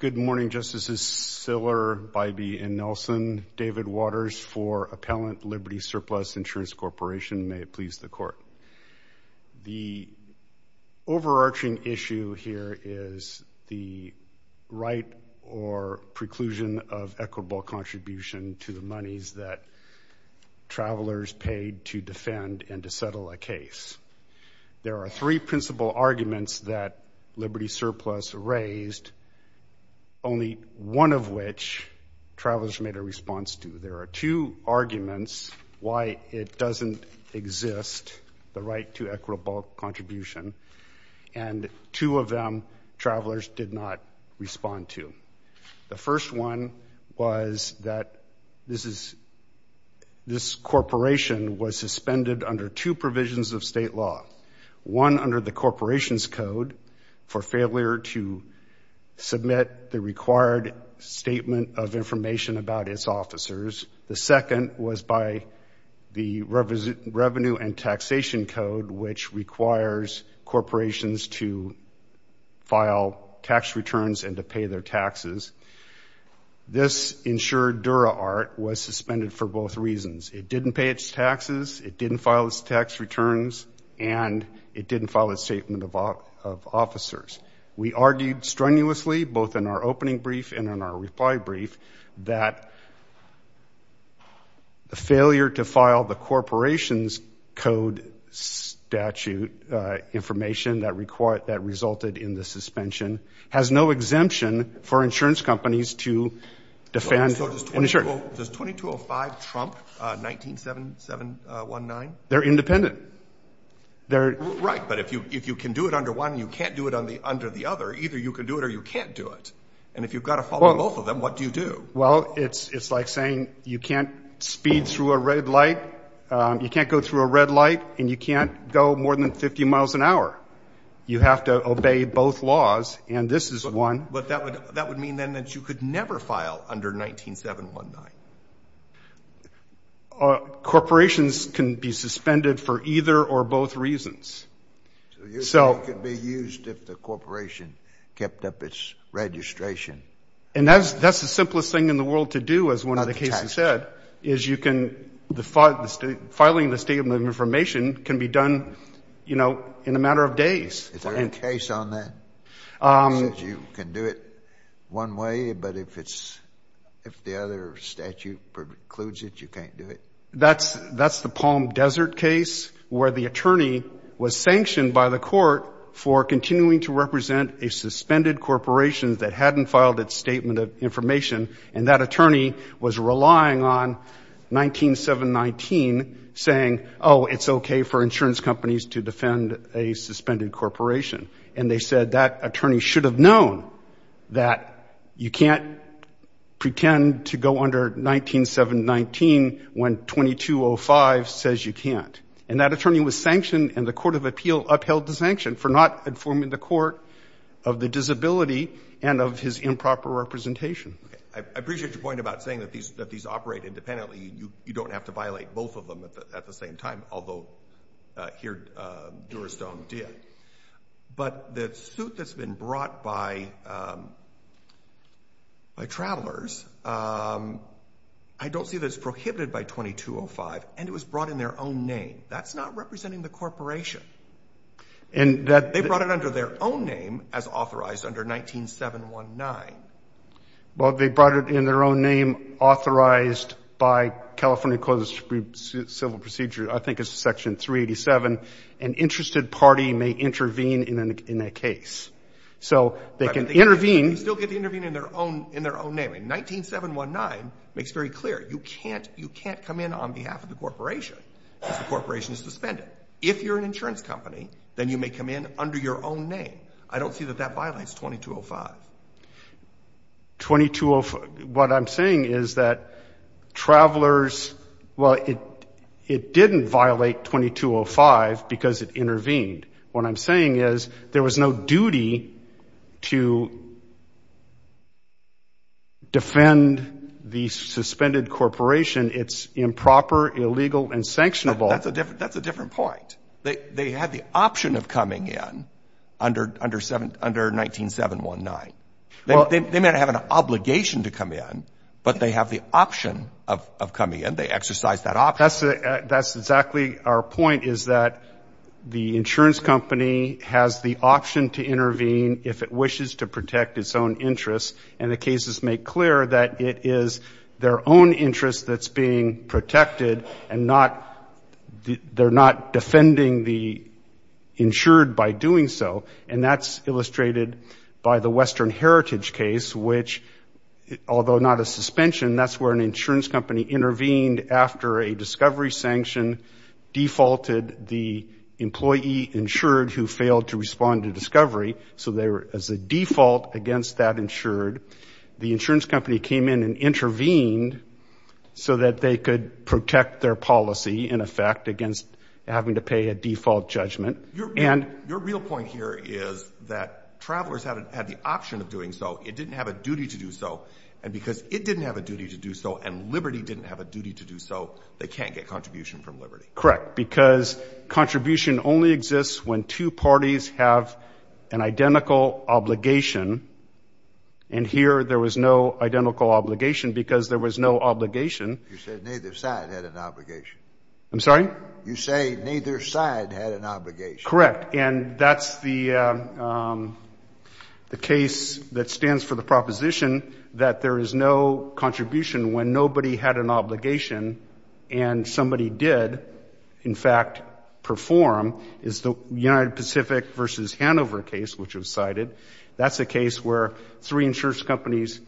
Good morning, Justices Siller, Bybee, and Nelson. David Waters for Appellant Liberty Surplus Insurance Corporation. May it please the Court. The overarching issue here is the right or preclusion of equitable contribution to the monies that travelers paid to defend and to settle a case. There are three principal arguments that Liberty Surplus raised, only one of which travelers made a response to. There are two arguments why it doesn't exist, the right to equitable contribution, and two of them travelers did not respond to. The first one was that this corporation was suspended under two provisions of state law. One under the corporation's code for failure to submit the required statement of information about its officers. The second was by the revenue and taxation code, which requires corporations to file tax returns and to pay their taxes. This insured dura art was suspended for both reasons. It didn't pay its taxes, it didn't file its tax returns, and it didn't file a statement of officers. We argued strenuously, both in our opening brief and in our reply brief, that the failure to file the corporation's code statute information that resulted in the suspension has no exemption for insurance companies to defend an insurer. Does 2205 trump 197719? They're independent. Right, but if you can do it under one and you can't do it under the other, either you can do it or you can't do it. And if you've got to follow both of them, what do you do? Well, it's like saying you can't speed through a red light, you can't go through a red light, and you can't go more than 50 miles an hour. You have to obey both laws, and this is one. But that would mean, then, that you could never file under 197719. Corporations can be suspended for either or both reasons. So you could be used if the corporation kept up its registration. And that's the simplest thing in the world to do, as one of the cases said, is you can, filing the statement of information can be done in a matter of days. Is there a case on that that says you can do it one way, but if the other statute precludes it, you can't do it? That's the Palm Desert case, where the attorney was sanctioned by the court for continuing to represent a suspended corporation that hadn't filed its statement of information, and that attorney was relying on 197719, saying, it's okay for insurance companies to defend a suspended corporation. And they said that attorney should have known that you can't pretend to go under 197719 when 2205 says you can't. And that attorney was sanctioned, and the Court of Appeal upheld the sanction for not informing the court of the disability and of his improper representation. I appreciate your point about saying that these operate independently. You don't have to violate both of them at the same time, although here, Dewey Stone did. But the suit that's been brought by travelers, I don't see that it's prohibited by 2205, and it was brought in their own name. That's not representing the corporation. They brought it under their own name, as authorized under 197719. Well, they brought it in their own name, authorized by California Code of Civil Procedure, I think it's section 387. An interested party may intervene in a case. So they can intervene. You still get to intervene in their own name. And 197719 makes very clear, you can't come in on behalf of the corporation if the corporation is suspended. If you're an insurance company, then you may come in under your own name. I don't see that that violates 2205. What I'm saying is that travelers, well, it didn't violate 2205 because it intervened. What I'm saying is, there was no duty to defend the suspended corporation. It's improper, illegal, and sanctionable. That's a different point. They had the option of coming in under 197719. They may not have an obligation to come in, but they have the option of coming in. They exercise that option. That's exactly our point, is that the insurance company has the option to intervene if it wishes to protect its own interests. And the cases make clear that it is their own interest that's being protected, and they're not defending the insured by doing so. And that's illustrated by the Western Heritage case, which, although not a suspension, that's where an insurance company intervened after a discovery sanction defaulted the employee insured who failed to respond to discovery. So they were, as a default, against that insured. The insurance company came in and intervened so that they could protect their policy, in effect, against having to pay a default judgment. Your real point here is that travelers had the option of doing so. It didn't have a duty to do so. And because it didn't have a duty to do so, and liberty didn't have a duty to do so, they can't get contribution from liberty. Correct, because contribution only exists when two parties have an identical obligation, and here there was no identical obligation because there was no obligation. You said neither side had an obligation. I'm sorry? You say neither side had an obligation. Correct. And that's the case that stands for the proposition that there is no contribution when nobody had an obligation and somebody did, in fact, perform, is the United Pacific versus Hanover case, which was cited. That's a case where three insurance companies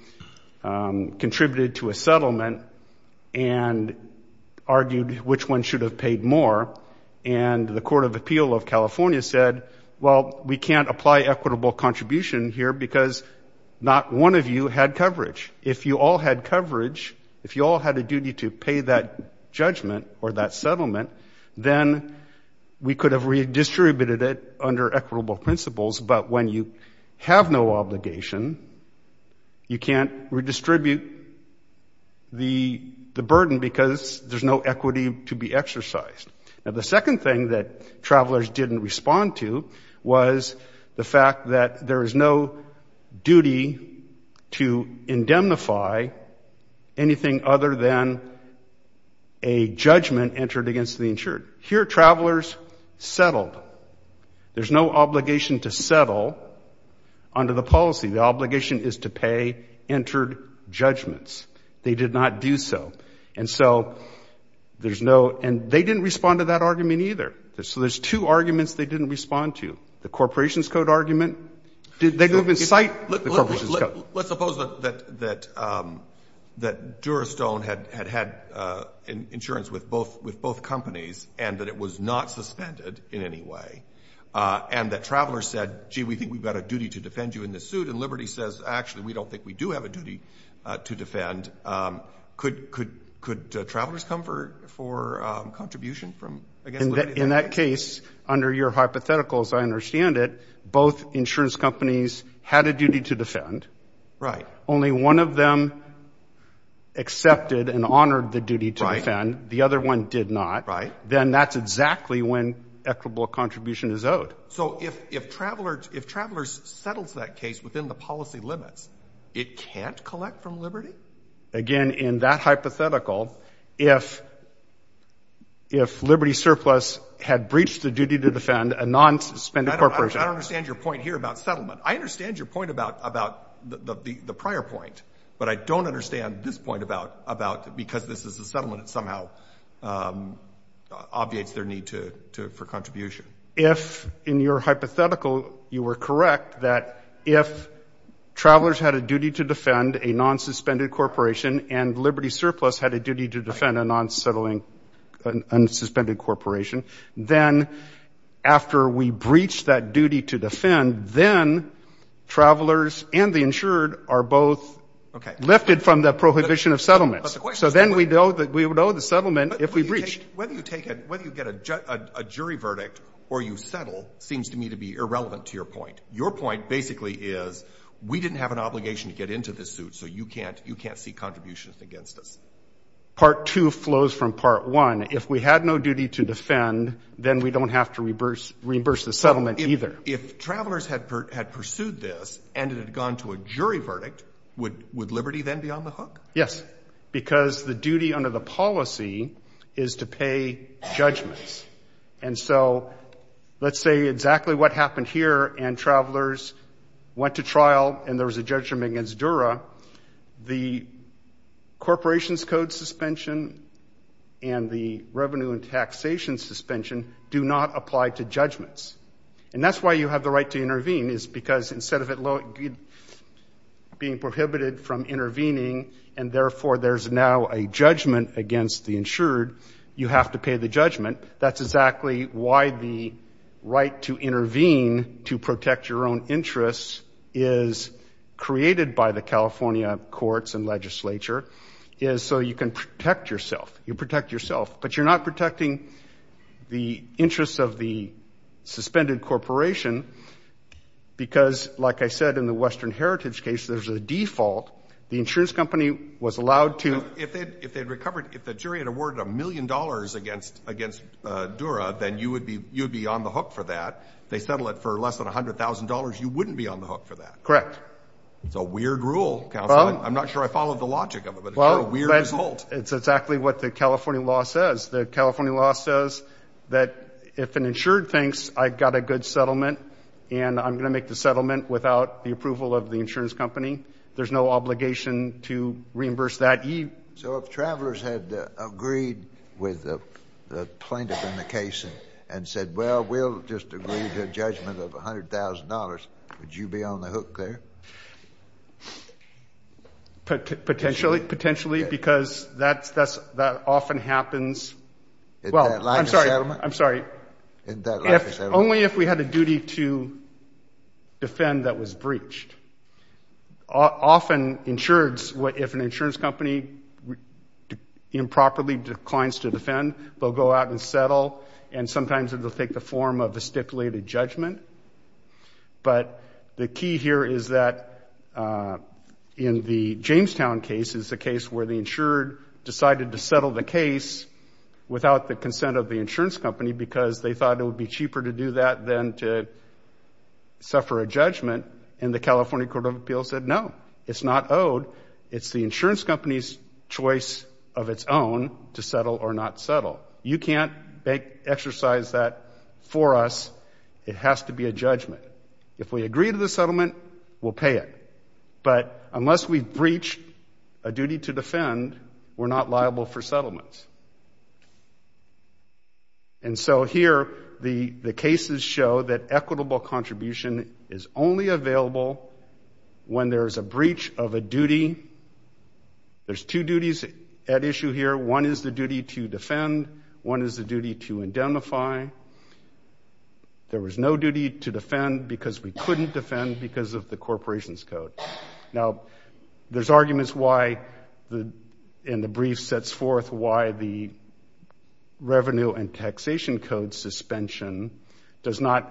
contributed to a settlement and argued which one should have paid more. And the Court of Appeal of California said, well, we can't apply equitable contribution here because not one of you had coverage. If you all had coverage, if you all had a duty to pay that judgment or that settlement, then we could have redistributed it under equitable principles. But when you have no obligation, you can't redistribute the burden because there's no equity to be exercised. Now, the second thing that travelers didn't respond to was the fact that there is no duty to indemnify anything other than a judgment entered against the insured. Here, travelers settled. There's no obligation to settle under the policy. The obligation is to pay entered judgments. They did not do so. And so there's no, and they didn't respond to that argument either. So there's two arguments they didn't respond to. The Corporations Code argument, they didn't even cite the Corporations Code. Let's suppose that Durastone had had insurance with both companies and that it was not suspended in any way and that travelers said, gee, we think we've got a duty to defend you in this suit. And Liberty says, actually, we don't think we do have a duty to defend. Could travelers come for contribution from, I guess, Liberty? In that case, under your hypothetical, as I understand it, both insurance companies had a duty to defend. Right. Only one of them accepted and honored the duty to defend. The other one did not. Right. Then that's exactly when equitable contribution is owed. So if travelers settles that case within the policy limits, it can't collect from Liberty? Again, in that hypothetical, if Liberty Surplus had breached the duty to defend a non-suspended corporation. I don't understand your point here about settlement. I understand your point about the prior point, but I don't understand this point about because this is a settlement, it somehow obviates their need for contribution. If, in your hypothetical, you were correct that if travelers had a duty to defend a non-suspended corporation and Liberty Surplus had a duty to defend a non-settling unsuspended corporation, then after we breached that duty to defend, then travelers and the insured are both lifted from the prohibition of settlement. So then we would owe the settlement if we breached. Whether you get a jury verdict or you settle seems to me to be irrelevant to your point. Your point basically is we didn't have an obligation to get into this suit, so you can't see contributions against us. Part 2 flows from Part 1. If we had no duty to defend, then we don't have to reimburse the settlement either. If travelers had pursued this and it had gone to a jury verdict, would Liberty then be on the hook? Yes, because the duty under the policy is to pay judgments. And so let's say exactly what happened here and travelers went to trial and there was a judgment against Dura, the corporation's code suspension and the revenue and taxation suspension do not apply to judgments. And that's why you have the right to intervene is because instead of it being prohibited from intervening and therefore there's now a judgment against the insured, you have to pay the judgment. That's exactly why the right to intervene to protect your own interests is created by the California courts and legislature is so you can protect yourself. You protect yourself, but you're not protecting the interests of the suspended corporation because like I said, in the Western Heritage case, there's a default. The insurance company was allowed to... If they'd recovered, if the jury had awarded a million dollars against Dura, then you would be on the hook for that. They settle it for less than a hundred thousand dollars. You wouldn't be on the hook for that. Correct. It's a weird rule. I'm not sure I followed the logic of it, but it's a weird result. It's exactly what the California law says. The California law says that if an insured thinks I've got a good settlement and I'm going to make the settlement without the approval of the insurance company, there's no obligation to reimburse that. So if travelers had agreed with the plaintiff in the case and said, well, we'll just agree to a judgment of a hundred thousand dollars. Would you be on the hook there? Potentially, potentially because that often happens. Well, I'm sorry. I'm sorry. If only if we had a duty to defend that was breached. Often insureds, if an insurance company improperly declines to defend, they'll go out and settle and sometimes it'll take the form of a stipulated judgment. But the key here is that in the Jamestown case is the case where the insured decided to settle the case without the consent of the insurance company because they thought it would be cheaper to do that than to suffer a judgment and the California Court of Appeals said, no, it's not owed. It's the insurance company's choice of its own to settle or not settle. You can't exercise that for us. It has to be a judgment. If we agree to the settlement, we'll pay it. But unless we breach a duty to defend, we're not liable for settlements. And so here, the cases show that equitable contribution is only available when there is a breach of a duty. There's two duties at issue here. One is the duty to defend. One is the duty to identify. There was no duty to defend because we couldn't defend because of the corporation's code. Now, there's arguments why, and the brief sets forth why the Revenue and Taxation Code suspension does not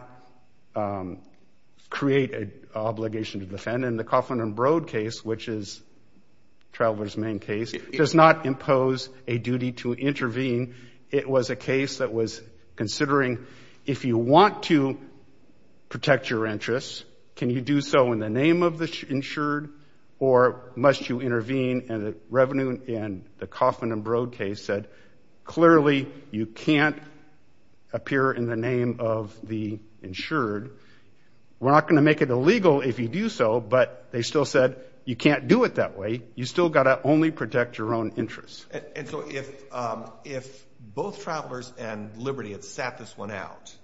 create an obligation to defend. And the Coughlin and Broad case, which is Traveler's main case, does not impose a duty to intervene. It was a case that was considering, if you want to protect your interests, can you do so in the name of the insured or must you intervene? And the Revenue and the Coughlin and Broad case said, clearly, you can't appear in the name of the insured. We're not going to make it illegal if you do so. But they still said, you can't do it that way. You still got to only protect your own interests. And so if both Travelers and Liberty had sat this one out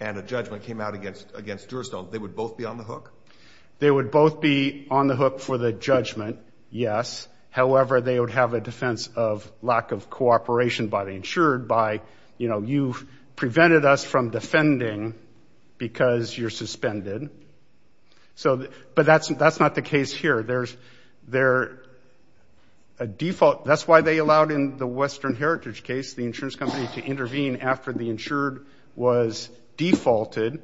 and a judgment came out against Deweystone, they would both be on the hook? They would both be on the hook for the judgment, yes. However, they would have a defense of lack of cooperation by the insured by, you know, you've prevented us from defending because you're suspended. So but that's not the case here. There's a default. That's why they allowed in the Western Heritage case, the insurance company to intervene after the insured was defaulted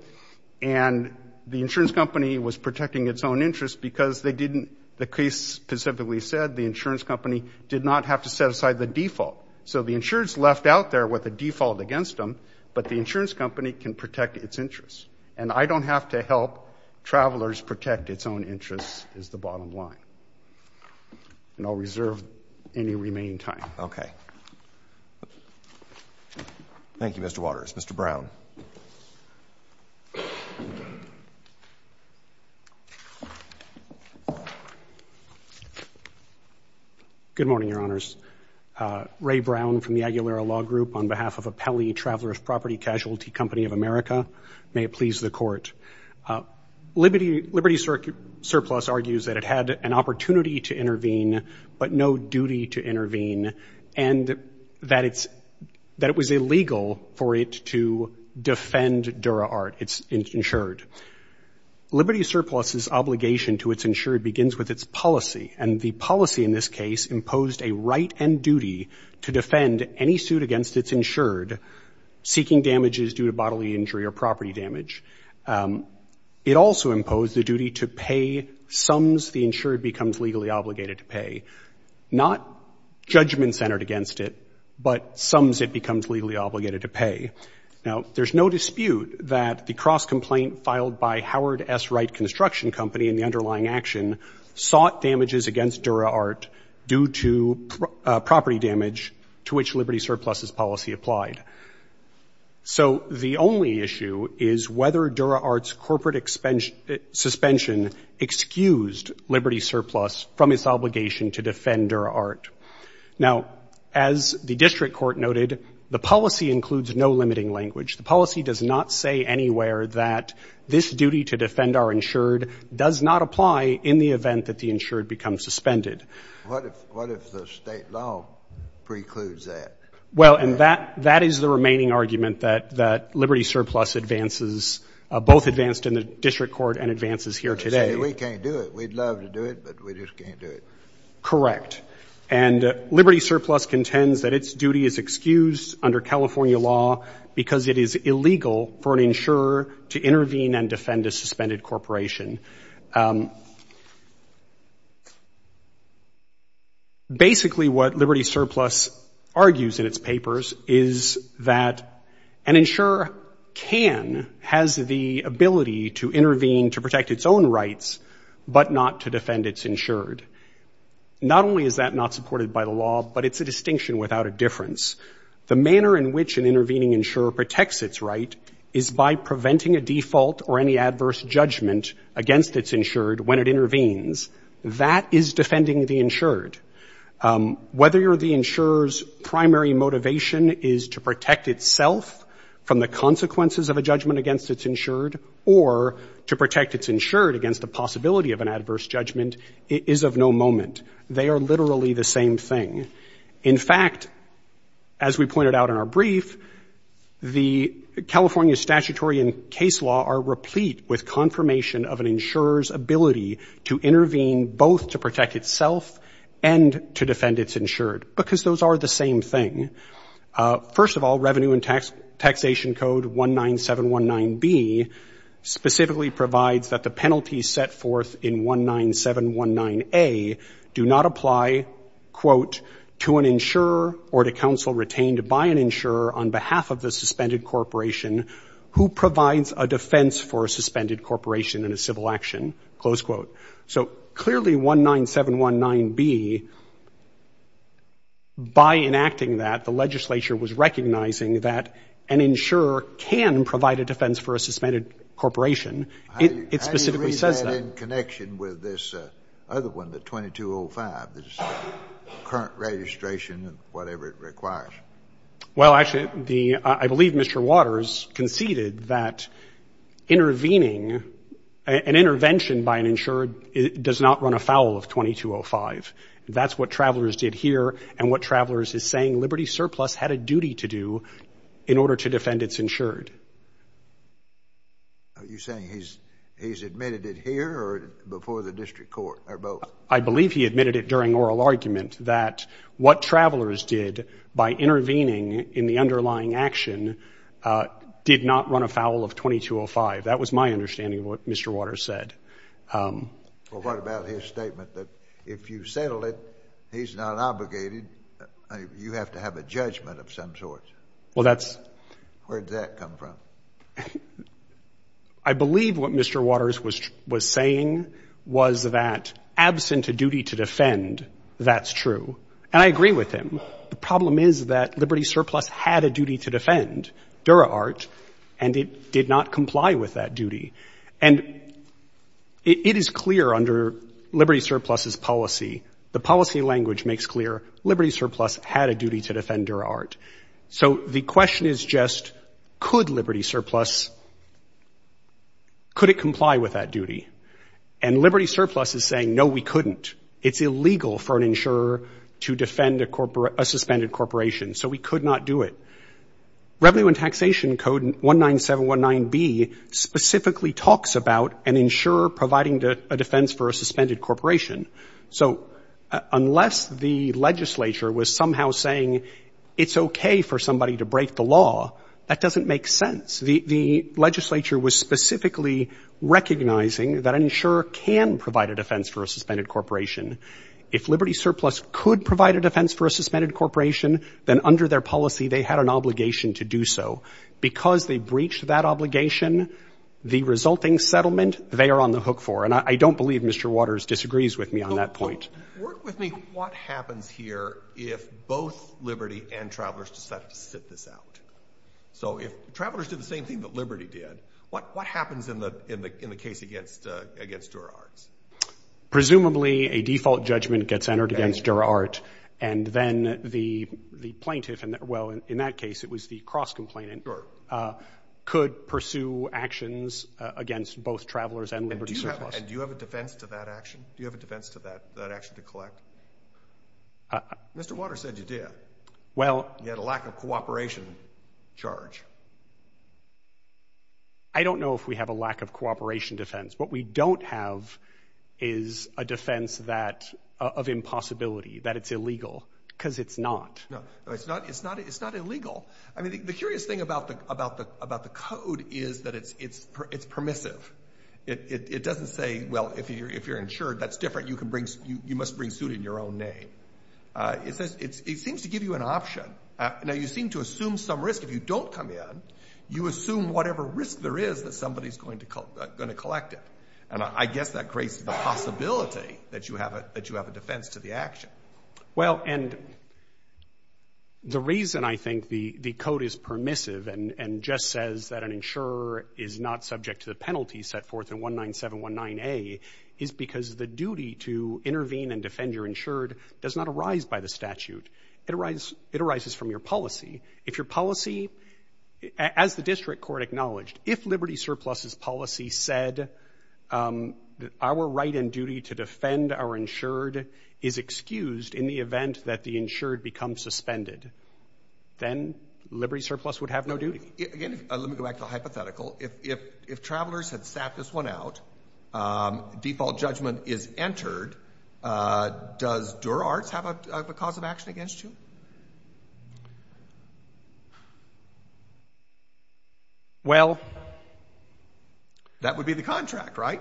and the insurance company was protecting its own interest because they didn't, the case specifically said, the insurance company did not have to set aside the default. So the insured's left out there with a default against them, but the insurance company can protect its interests. And I don't have to help Travelers protect its own interests, is the bottom line. And I'll reserve any remaining time. Okay. Thank you, Mr. Waters. Mr. Brown. Good morning, Your Honors. Ray Brown from the Aguilera Law Group on behalf of Appelli Traveler's Property Casualty Company of America. May it please the Court. Liberty Surplus argues that it had an opportunity to intervene, but no duty to intervene, and that it was illegal for it to defend DuraArt, its insured. Liberty Surplus's obligation to its insured begins with its policy, and the policy in this case imposed a right and duty to defend any suit against its insured seeking damages due to bodily injury or property damage. It also imposed the duty to pay sums the insured becomes legally obligated to pay. Not judgment-centered against it, but sums it becomes legally obligated to pay. Now, there's no dispute that the cross-complaint filed by Howard S. Wright Construction Company in the underlying action sought damages against DuraArt due to property damage to which Liberty Surplus's policy applied. So the only issue is whether DuraArt's corporate suspension excused Liberty Surplus from its obligation to defend DuraArt. Now, as the district court noted, the policy includes no limiting language. The policy does not say anywhere that this duty to defend our insured does not apply in the event that the insured becomes suspended. What if the state law precludes that? Well, and that that is the remaining argument that that Liberty Surplus advances, both advanced in the district court and advances here today. We can't do it. We'd love to do it, but we just can't do it. Correct. And Liberty Surplus contends that its duty is excused under California law because it is illegal for an insurer to intervene and defend a suspended corporation. Basically, what Liberty Surplus argues in its papers is that an insurer can, has the ability to intervene to protect its own rights, but not to defend its insured. Not only is that not supported by the law, but it's a distinction without a difference. The manner in which an intervening insurer protects its right is by preventing a default or any adverse judgment against the insurer. A judgment against its insured, when it intervenes, that is defending the insured. Whether you're the insurer's primary motivation is to protect itself from the consequences of a judgment against its insured, or to protect its insured against the possibility of an adverse judgment, it is of no moment. They are literally the same thing. In fact, as we pointed out in our brief, the California statutory and case law are replete with confirmation of an insurer's ability to intervene both to protect itself and to defend its insured, because those are the same thing. First of all, Revenue and Taxation Code 19719B specifically provides that the penalties set forth in 19719A do not apply, quote, to an insurer or to counsel retained by an insurer on behalf of the suspended corporation who provides a defense for a suspended corporation in a civil action, close quote. So clearly, 19719B, by enacting that, the legislature was recognizing that an insurer can provide a defense for a suspended corporation. It specifically says that. Scalia. How do you read that in connection with this other one, the 2205, the current registration and whatever it requires? Well, actually, I believe Mr. Waters conceded that intervening, an intervention by an insured does not run afoul of 2205. That's what Travelers did here and what Travelers is saying Liberty Surplus had a duty to do in order to defend its insured. Are you saying he's admitted it here or before the district court, or both? I believe he admitted it during oral argument that what Travelers did by intervening in the underlying action did not run afoul of 2205. That was my understanding of what Mr. Waters said. Well, what about his statement that if you settle it, he's not obligated. You have to have a judgment of some sort. Well, that's. Where did that come from? I believe what Mr. Waters was saying was that absent a duty to defend, that's true. And I agree with him. The problem is that Liberty Surplus had a duty to defend DuraArt and it did not comply with that duty. And it is clear under Liberty Surplus's policy, the policy language makes clear Liberty Surplus had a duty to defend DuraArt. So the question is just, could Liberty Surplus, could it comply with that duty? And Liberty Surplus is saying, no, we couldn't. It's illegal for an insurer to defend a suspended corporation. So we could not do it. Revenue and Taxation Code 19719B specifically talks about an insurer providing a defense for a suspended corporation. So unless the legislature was somehow saying it's okay for somebody to break the law, that doesn't make sense. The legislature was specifically recognizing that an insurer can provide a defense for a suspended corporation. If Liberty Surplus could provide a defense for a suspended corporation, then under their policy, they had an obligation to do so. Because they breached that obligation, the resulting settlement, they are on the hook for. And I don't believe Mr. Waters disagrees with me on that point. Work with me. What happens here if both Liberty and Travelers decide to sit this out? So if Travelers did the same thing that Liberty did, what happens in the case against DuraArt? Presumably, a default judgment gets entered against DuraArt. And then the plaintiff, well, in that case, it was the cross-complainant, could pursue actions against both Travelers and Liberty Surplus. Do you have a defense to that action? Do you have a defense to that action to collect? Mr. Waters said you did. You had a lack of cooperation charge. I don't know if we have a lack of cooperation defense. What we don't have is a defense of impossibility, that it's illegal, because it's not. No, it's not illegal. I mean, the curious thing about the code is that it's permissive. It doesn't say, well, if you're insured, that's different. You can bring—you must bring suit in your own name. It says—it seems to give you an option. Now, you seem to assume some risk. If you don't come in, you assume whatever risk there is that somebody's going to collect it. And I guess that creates the possibility that you have a defense to the action. Well, and the reason I think the code is permissive and just says that an insurer is not subject to the penalty set forth in 19719A is because the duty to intervene and defend your insured does not arise by the statute. It arises from your policy. If your policy—as the district court acknowledged, if Liberty Surplus's policy said our right and duty to defend our insured is excused in the event that the insured becomes suspended, then Liberty Surplus would have no duty. Again, let me go back to the hypothetical. If travelers had sat this one out, default judgment is entered, does Dura-Arts have a cause of action against you? Well— That would be the contract, right?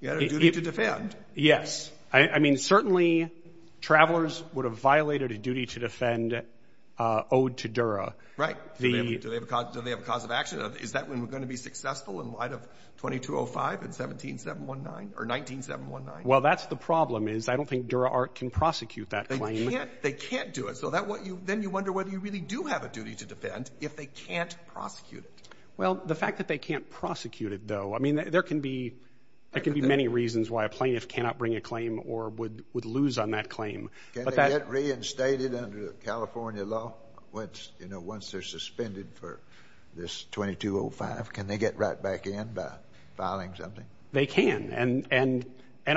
You had a duty to defend. Yes. I mean, certainly, travelers would have violated a duty to defend owed to Dura. Right. Do they have a cause of action? Is that when we're going to be successful in light of 2205 and 17719 or 19719? Well, that's the problem is I don't think Dura-Art can prosecute that claim. They can't do it. So then you wonder whether you really do have a duty to defend if they can't prosecute it. Well, the fact that they can't prosecute it, though, I mean, there can be many reasons why a plaintiff cannot bring a claim or would lose on that claim. Can they get reinstated under California law? Once they're suspended for this 2205, can they get right back in by filing something? They can. And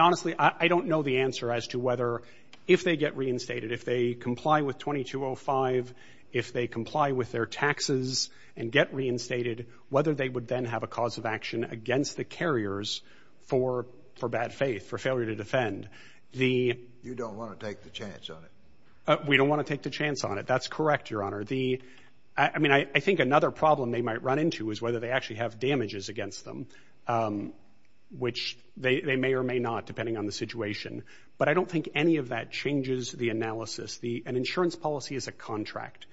honestly, I don't know the answer as to whether, if they get reinstated, if they comply with 2205, if they comply with their taxes and get reinstated, whether they would then have a cause of action against the carriers for bad faith, for failure to defend. You don't want to take the chance on it. We don't want to take the chance on it. That's correct, Your Honor. I mean, I think another problem they might run into is whether they actually have damages against them, which they may or may not, depending on the situation. But I don't think any of that changes the analysis. The insurance policy is a contract.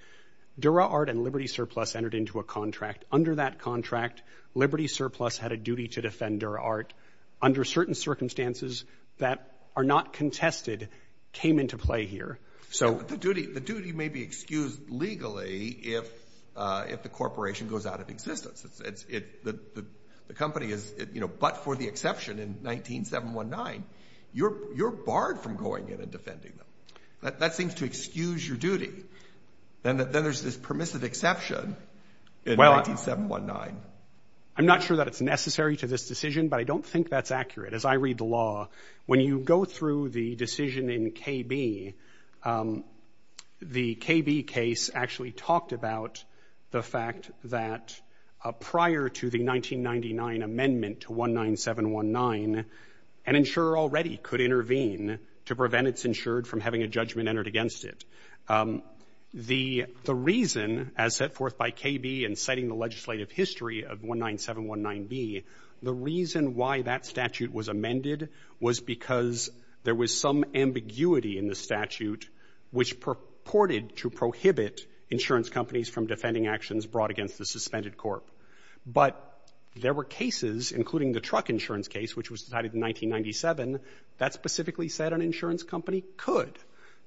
Dura-Art and Liberty Surplus entered into a contract. Under that contract, Liberty Surplus had a duty to defend Dura-Art. Under certain circumstances that are not contested came into play here. So the duty may be excused legally if the corporation goes out of existence. The company is, you know, but for the exception in 19-719, you're barred from going in and defending them. That seems to excuse your duty. Then there's this permissive exception in 19-719. I'm not sure that it's necessary to this decision, but I don't think that's accurate. As I read the law, when you go through the decision in KB, the KB case actually talked about the fact that prior to the 1999 amendment to 19-719, an insurer already could intervene to prevent its insured from having a judgment entered against it. The reason, as set forth by KB in citing the legislative history of 19-719B, the reason why that statute was amended was because there was some ambiguity in the statute which purported to prohibit insurance companies from defending actions brought against the suspended corp. But there were cases, including the truck insurance case, which was decided in 1997, that specifically said an insurance company could.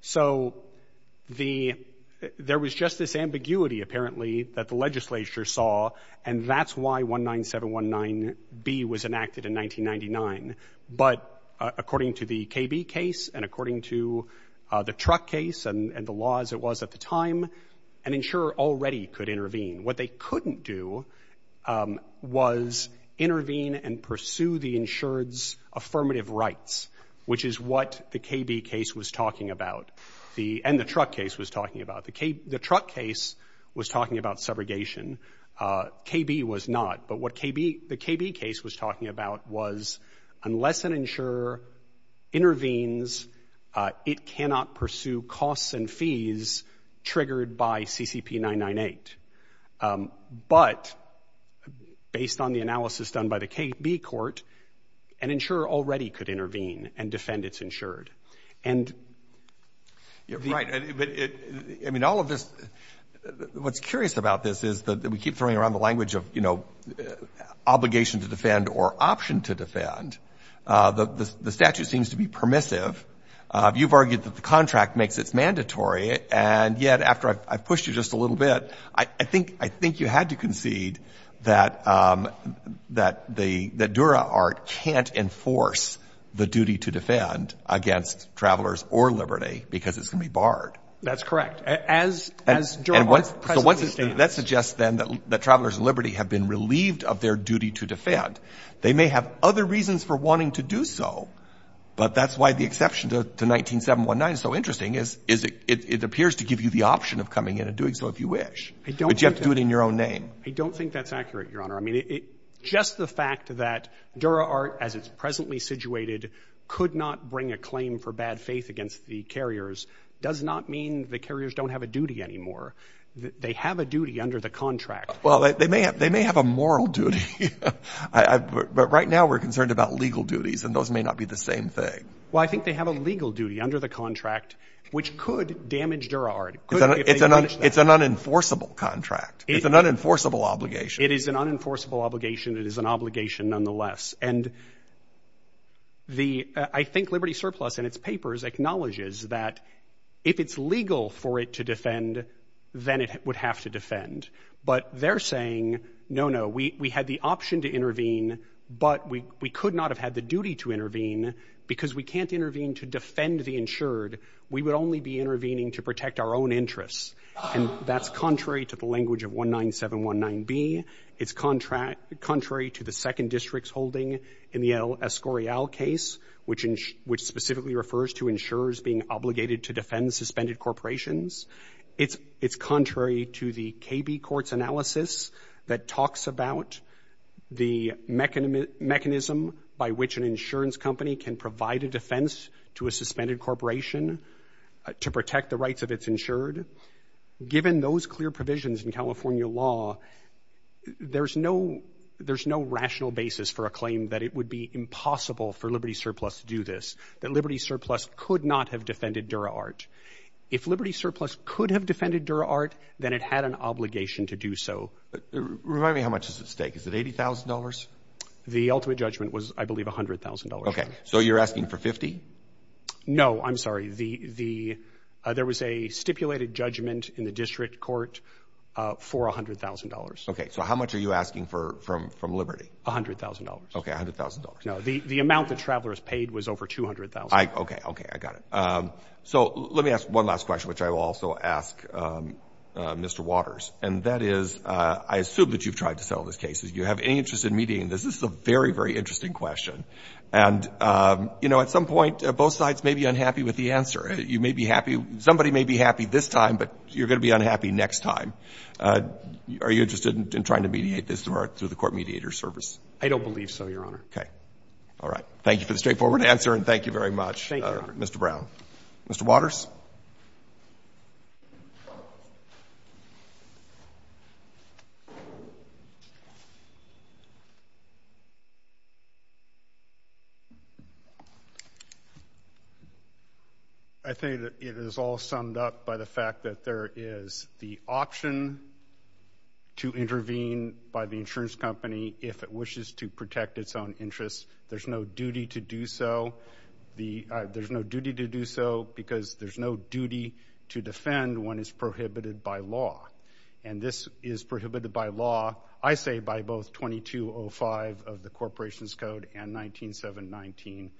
So there was just this ambiguity, apparently, that the legislature saw, and that's why 19-719B was enacted in 1999. But according to the KB case and according to the truck case and the laws it was at the time, an insurer already could intervene. What they couldn't do was intervene and pursue the insured's affirmative rights, which is what the KB case was talking about, and the truck case was talking about. The truck case was talking about subrogation. KB was not. But what the KB case was talking about was, unless an insurer intervenes, it cannot pursue costs and fees triggered by CCP 998. But based on the analysis done by the KB court, an insurer already could intervene and defend its insured. And the — we keep throwing around the language of, you know, obligation to defend or option to defend. The statute seems to be permissive. You've argued that the contract makes it mandatory. And yet, after I've pushed you just a little bit, I think you had to concede that DuraArt can't enforce the duty to defend against travelers or liberty because it's going to be That's correct. As DuraArt presently stands. That suggests, then, that travelers and liberty have been relieved of their duty to defend. They may have other reasons for wanting to do so, but that's why the exception to 19-719 is so interesting, is it appears to give you the option of coming in and doing so if you wish. But you have to do it in your own name. I don't think that's accurate, Your Honor. I mean, just the fact that DuraArt, as it's presently situated, could not bring a claim for bad faith against the carriers does not mean the carriers don't have a duty anymore. They have a duty under the contract. Well, they may have a moral duty. But right now, we're concerned about legal duties, and those may not be the same thing. Well, I think they have a legal duty under the contract, which could damage DuraArt. It's an unenforceable contract. It's an unenforceable obligation. It is an unenforceable obligation. It is an obligation nonetheless. And I think Liberty Surplus, in its papers, acknowledges that if it's legal for it to defend, then it would have to defend. But they're saying, no, no, we had the option to intervene, but we could not have had the duty to intervene because we can't intervene to defend the insured. We would only be intervening to protect our own interests. And that's contrary to the language of 19719B. It's contrary to the second district's holding in the El Escorial case, which specifically refers to insurers being obligated to defend suspended corporations. It's contrary to the KB Court's analysis that talks about the mechanism by which an insurance company can provide a defense to a suspended corporation to protect the rights of its insured. Given those clear provisions in California law, there's no rational basis for a claim that it would be impossible for Liberty Surplus to do this, that Liberty Surplus could not have defended DuraArt. If Liberty Surplus could have defended DuraArt, then it had an obligation to do so. Remind me, how much is at stake? Is it $80,000? The ultimate judgment was, I believe, $100,000. OK, so you're asking for $50,000? No, I'm sorry. There was a stipulated judgment in the district court for $100,000. OK, so how much are you asking for from Liberty? $100,000. OK, $100,000. No, the amount that Travelers paid was over $200,000. OK, OK, I got it. So let me ask one last question, which I will also ask Mr. Waters. And that is, I assume that you've tried to settle these cases. Do you have any interest in mediating this? This is a very, very interesting question. And, you know, at some point, both sides may be unhappy with the answer. You may be happy. Somebody may be happy this time, but you're going to be unhappy next time. Are you interested in trying to mediate this through the court mediator service? I don't believe so, Your Honor. OK, all right. Thank you for the straightforward answer, and thank you very much, Mr. Brown. Mr. Waters? I think that it is all summed up by the fact that there is the option to intervene by the insurance company if it wishes to protect its own interests. There's no duty to do so. The there's no duty to do so because there's no duty to defend when it's prohibited by law. And this is prohibited by law, I say, by both 2205 of the Corporation's Code and 19719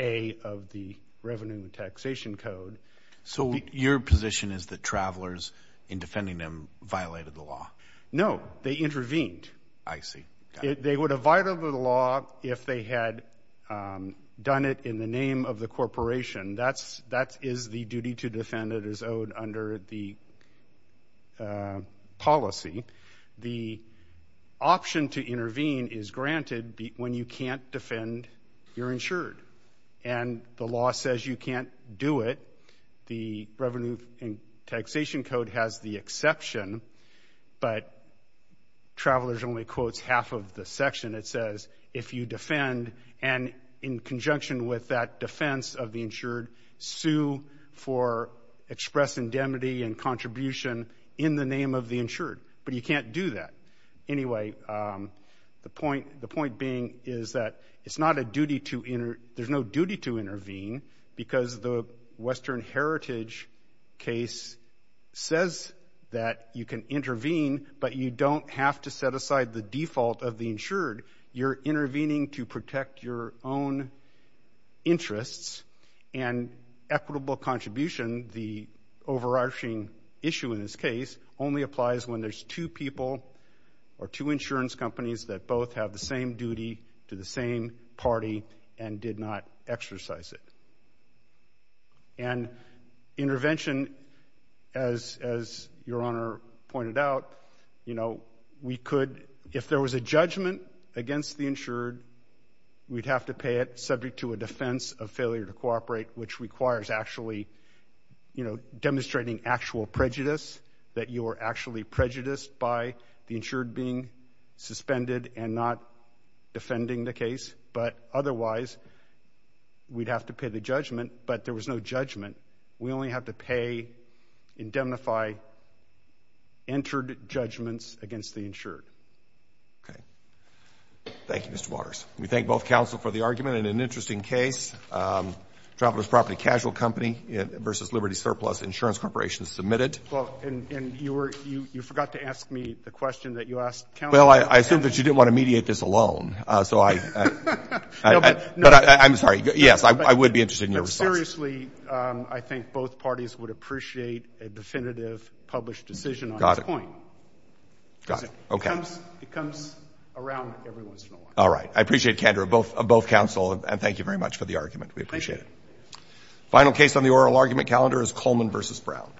A of the Revenue and Taxation Code. So your position is that travelers, in defending them, violated the law? No, they intervened. I see. They would have violated the law if they had done it in the name of the corporation. That is the duty to defend that is owed under the policy. The option to intervene is granted when you can't defend, you're insured. And the law says you can't do it. The Revenue and Taxation Code has the exception, but Travelers only quotes half of the section. It says if you defend and in conjunction with that defense of the insured, sue for express indemnity and contribution in the name of the insured. But you can't do that. Anyway, the point being is that it's not a duty to intervene. There's no duty to intervene because the Western Heritage case says that you can intervene, but you don't have to set aside the default of the insured. You're intervening to protect your own interests. And equitable contribution, the overarching issue in this case, only applies when there's two people or two insurance companies that both have the same duty to the same party and did not exercise it. And intervention, as your Honor pointed out, you know, we could, if there was a judgment against the insured, we'd have to pay it subject to a defense of failure to cooperate, which requires actually, you know, demonstrating actual prejudice, that you are actually prejudiced by the insured being suspended and not defending the case. But otherwise, we'd have to pay the judgment. But there was no judgment. We only have to pay, indemnify, entered judgments against the insured. Okay. Thank you, Mr. Waters. We thank both counsel for the argument. And an interesting case, Traveler's Property Casual Company versus Liberty Surplus Insurance Corporation submitted. Well, and you forgot to ask me the question that you asked counsel. Well, I assumed that you didn't want to mediate this alone. So I'm sorry. Yes, I would be interested in your response. No, seriously, I think both parties would appreciate a definitive published decision on this point. Got it. Okay. It comes around every once in a while. All right. I appreciate candor of both counsel. And thank you very much for the argument. We appreciate it. Final case on the oral argument calendar is Coleman versus Brown.